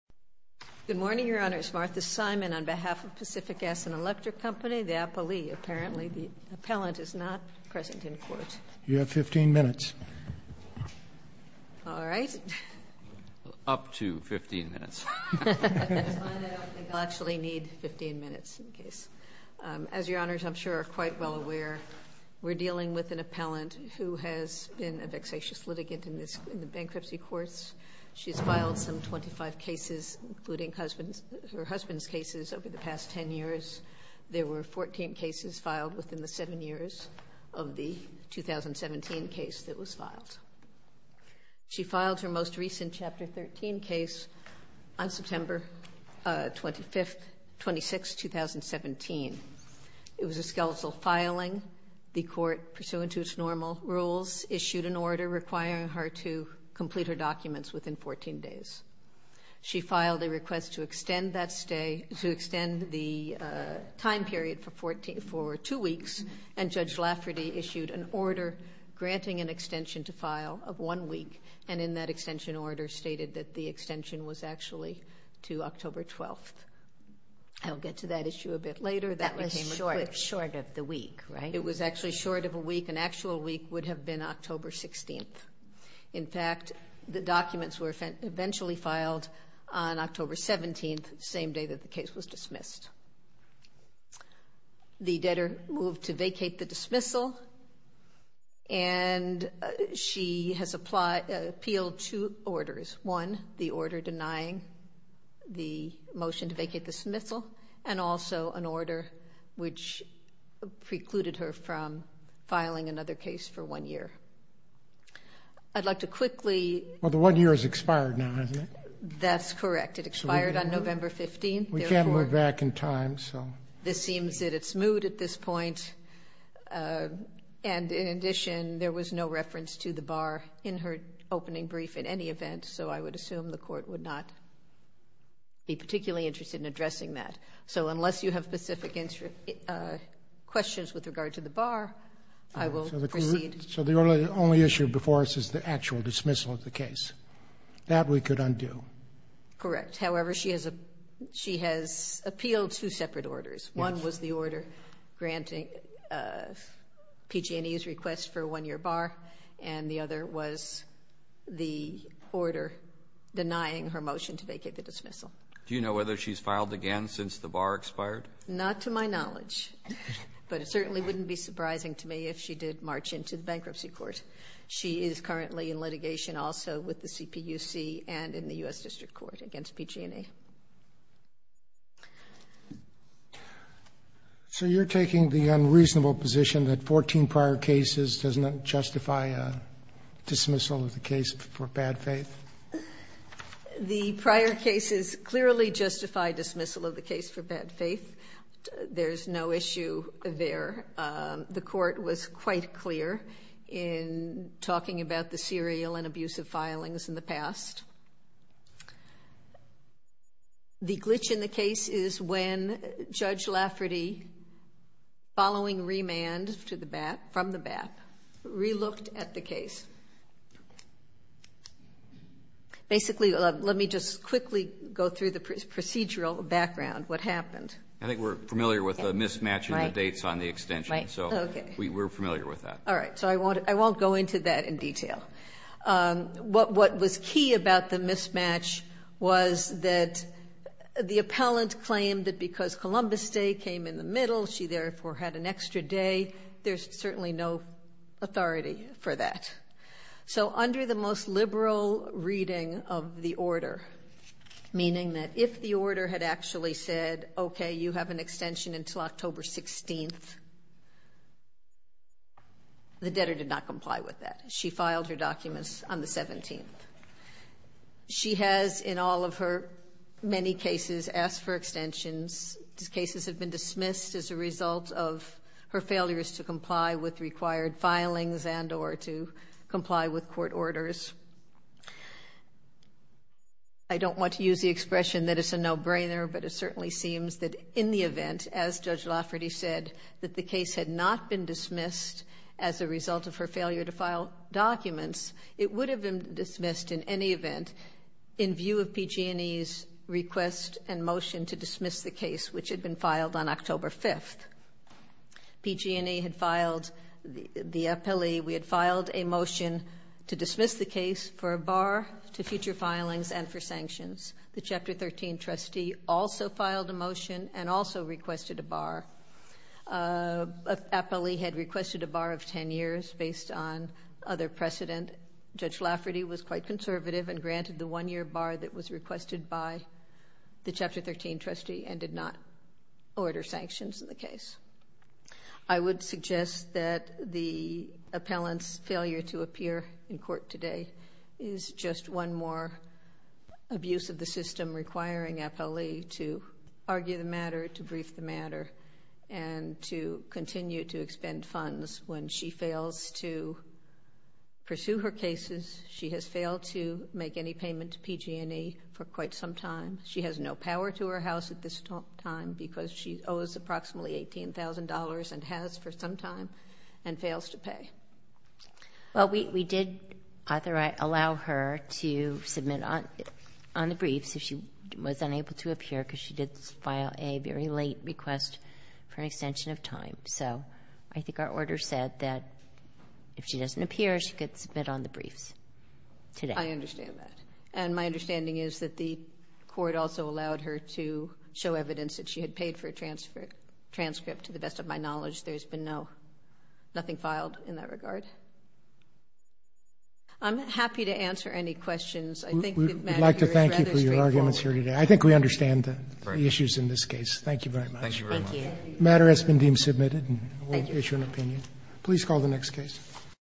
Good morning, Your Honors. Martha Simon on behalf of Pacific Gas and Electric Company, the appellee. Apparently the appellant is not present in court. You have 15 minutes. All right. Up to 15 minutes. I don't think I'll actually need 15 minutes in the case. As Your Honors, I'm sure are quite well aware we're dealing with an appellant who has been a vexatious litigant in the bankruptcy courts. She's filed some 25 cases including her husband's cases over the past 10 years. There were 14 cases filed within the seven years of the 2017 case that was filed. She filed her most recent Chapter 13 case on September 25th, 26, 2017. It was a skeletal filing. The court, pursuant to its normal rules, issued an order documents within 14 days. She filed a request to extend that stay, to extend the time period for two weeks, and Judge Lafferty issued an order granting an extension to file of one week, and in that extension order stated that the extension was actually to October 12th. I'll get to that issue a bit later. That was short of the week, right? It was actually short of a week. An the documents were eventually filed on October 17th, the same day that the case was dismissed. The debtor moved to vacate the dismissal and she has appealed two orders. One, the order denying the motion to vacate the dismissal, and also an order which precluded her from filing another case for one year. I'd like to quickly... Well, the one year has expired now, hasn't it? That's correct. It expired on November 15th. We can't move back in time, so... This seems in its mood at this point, and in addition, there was no reference to the bar in her opening brief in any event, so I would assume the court would not be particularly interested in addressing that. So unless you have specific questions with regard to the bar, I will proceed. So the only issue before us is the actual dismissal of the case. That we could undo. Correct. However, she has appealed two separate orders. Yes. One was the order granting PG&E's request for a one-year bar, and the other was the order denying her motion to vacate the dismissal. Do you know whether she's filed again since the bar expired? Not to my knowledge, but it certainly wouldn't be surprising to me if she did march into the bankruptcy court. She is currently in litigation also with the CPUC and in the U.S. District Court against PG&E. So you're taking the unreasonable position that 14 prior cases does not justify a dismissal of the case for bad faith? The prior cases clearly justify dismissal of the case for bad faith. There's no issue there. The court was quite clear in talking about the serial and abusive filings in the past. The glitch in the case is when Judge Lafferty, following remand from the BAP, re-looked at the case. Basically, let me just quickly go through the procedural background, what happened. I think we're familiar with the mismatch in the dates on the extension. Right. So we're familiar with that. All right. So I won't go into that in detail. What was key about the mismatch was that the appellant claimed that because Columbus Day came in the middle, she, therefore, had an extra day. There's certainly no authority for that. So under the most liberal reading of the order, meaning that if the order had actually said, okay, you have an extension until October 16th, the debtor did not comply with that. She filed her documents on the 17th. She has, in all of her many cases, asked for extensions. These cases have been dismissed as a result of her failures to comply with court orders. I don't want to use the expression that it's a no-brainer, but it certainly seems that in the event, as Judge Lafferty said, that the case had not been dismissed as a result of her failure to file documents, it would have been dismissed in any event in view of PG&E's request and motion to dismiss the case, which had been filed on October 5th. PG&E had filed the appellee. We had filed a motion to dismiss the case for a bar, to future filings, and for sanctions. The Chapter 13 trustee also filed a motion and also requested a bar. Appellee had requested a bar of 10 years based on other precedent. Judge Lafferty was quite conservative and granted the one-year bar that was requested by the Chapter 13 trustee and did not order sanctions in the case. I would suggest that the appellant's failure to appear in court today is just one more abuse of the system requiring appellee to argue the matter, to brief the matter, and to continue to expend funds when she fails to pursue her cases. She has failed to make any payment to PG&E for quite some time. She has no power to her house at this time because she owes approximately $18,000 and has for some time and fails to pay. Well, we did authorize, allow her to submit on the briefs if she was unable to appear because she did file a very late request for an extension of time. So I think our order said that if she doesn't appear, she could submit on the briefs today. I understand that. And my understanding is that the court also allowed her to show evidence that she had paid for a transfer, transcript, to the best of my knowledge. There's been no, nothing filed in that regard. I'm happy to answer any questions. I think the matter here is rather straightforward. We'd like to thank you for your arguments here today. I think we understand the issues in this case. Thank you very much. Thank you very much. The matter has been deemed submitted and we'll issue an opinion. Please call the next case.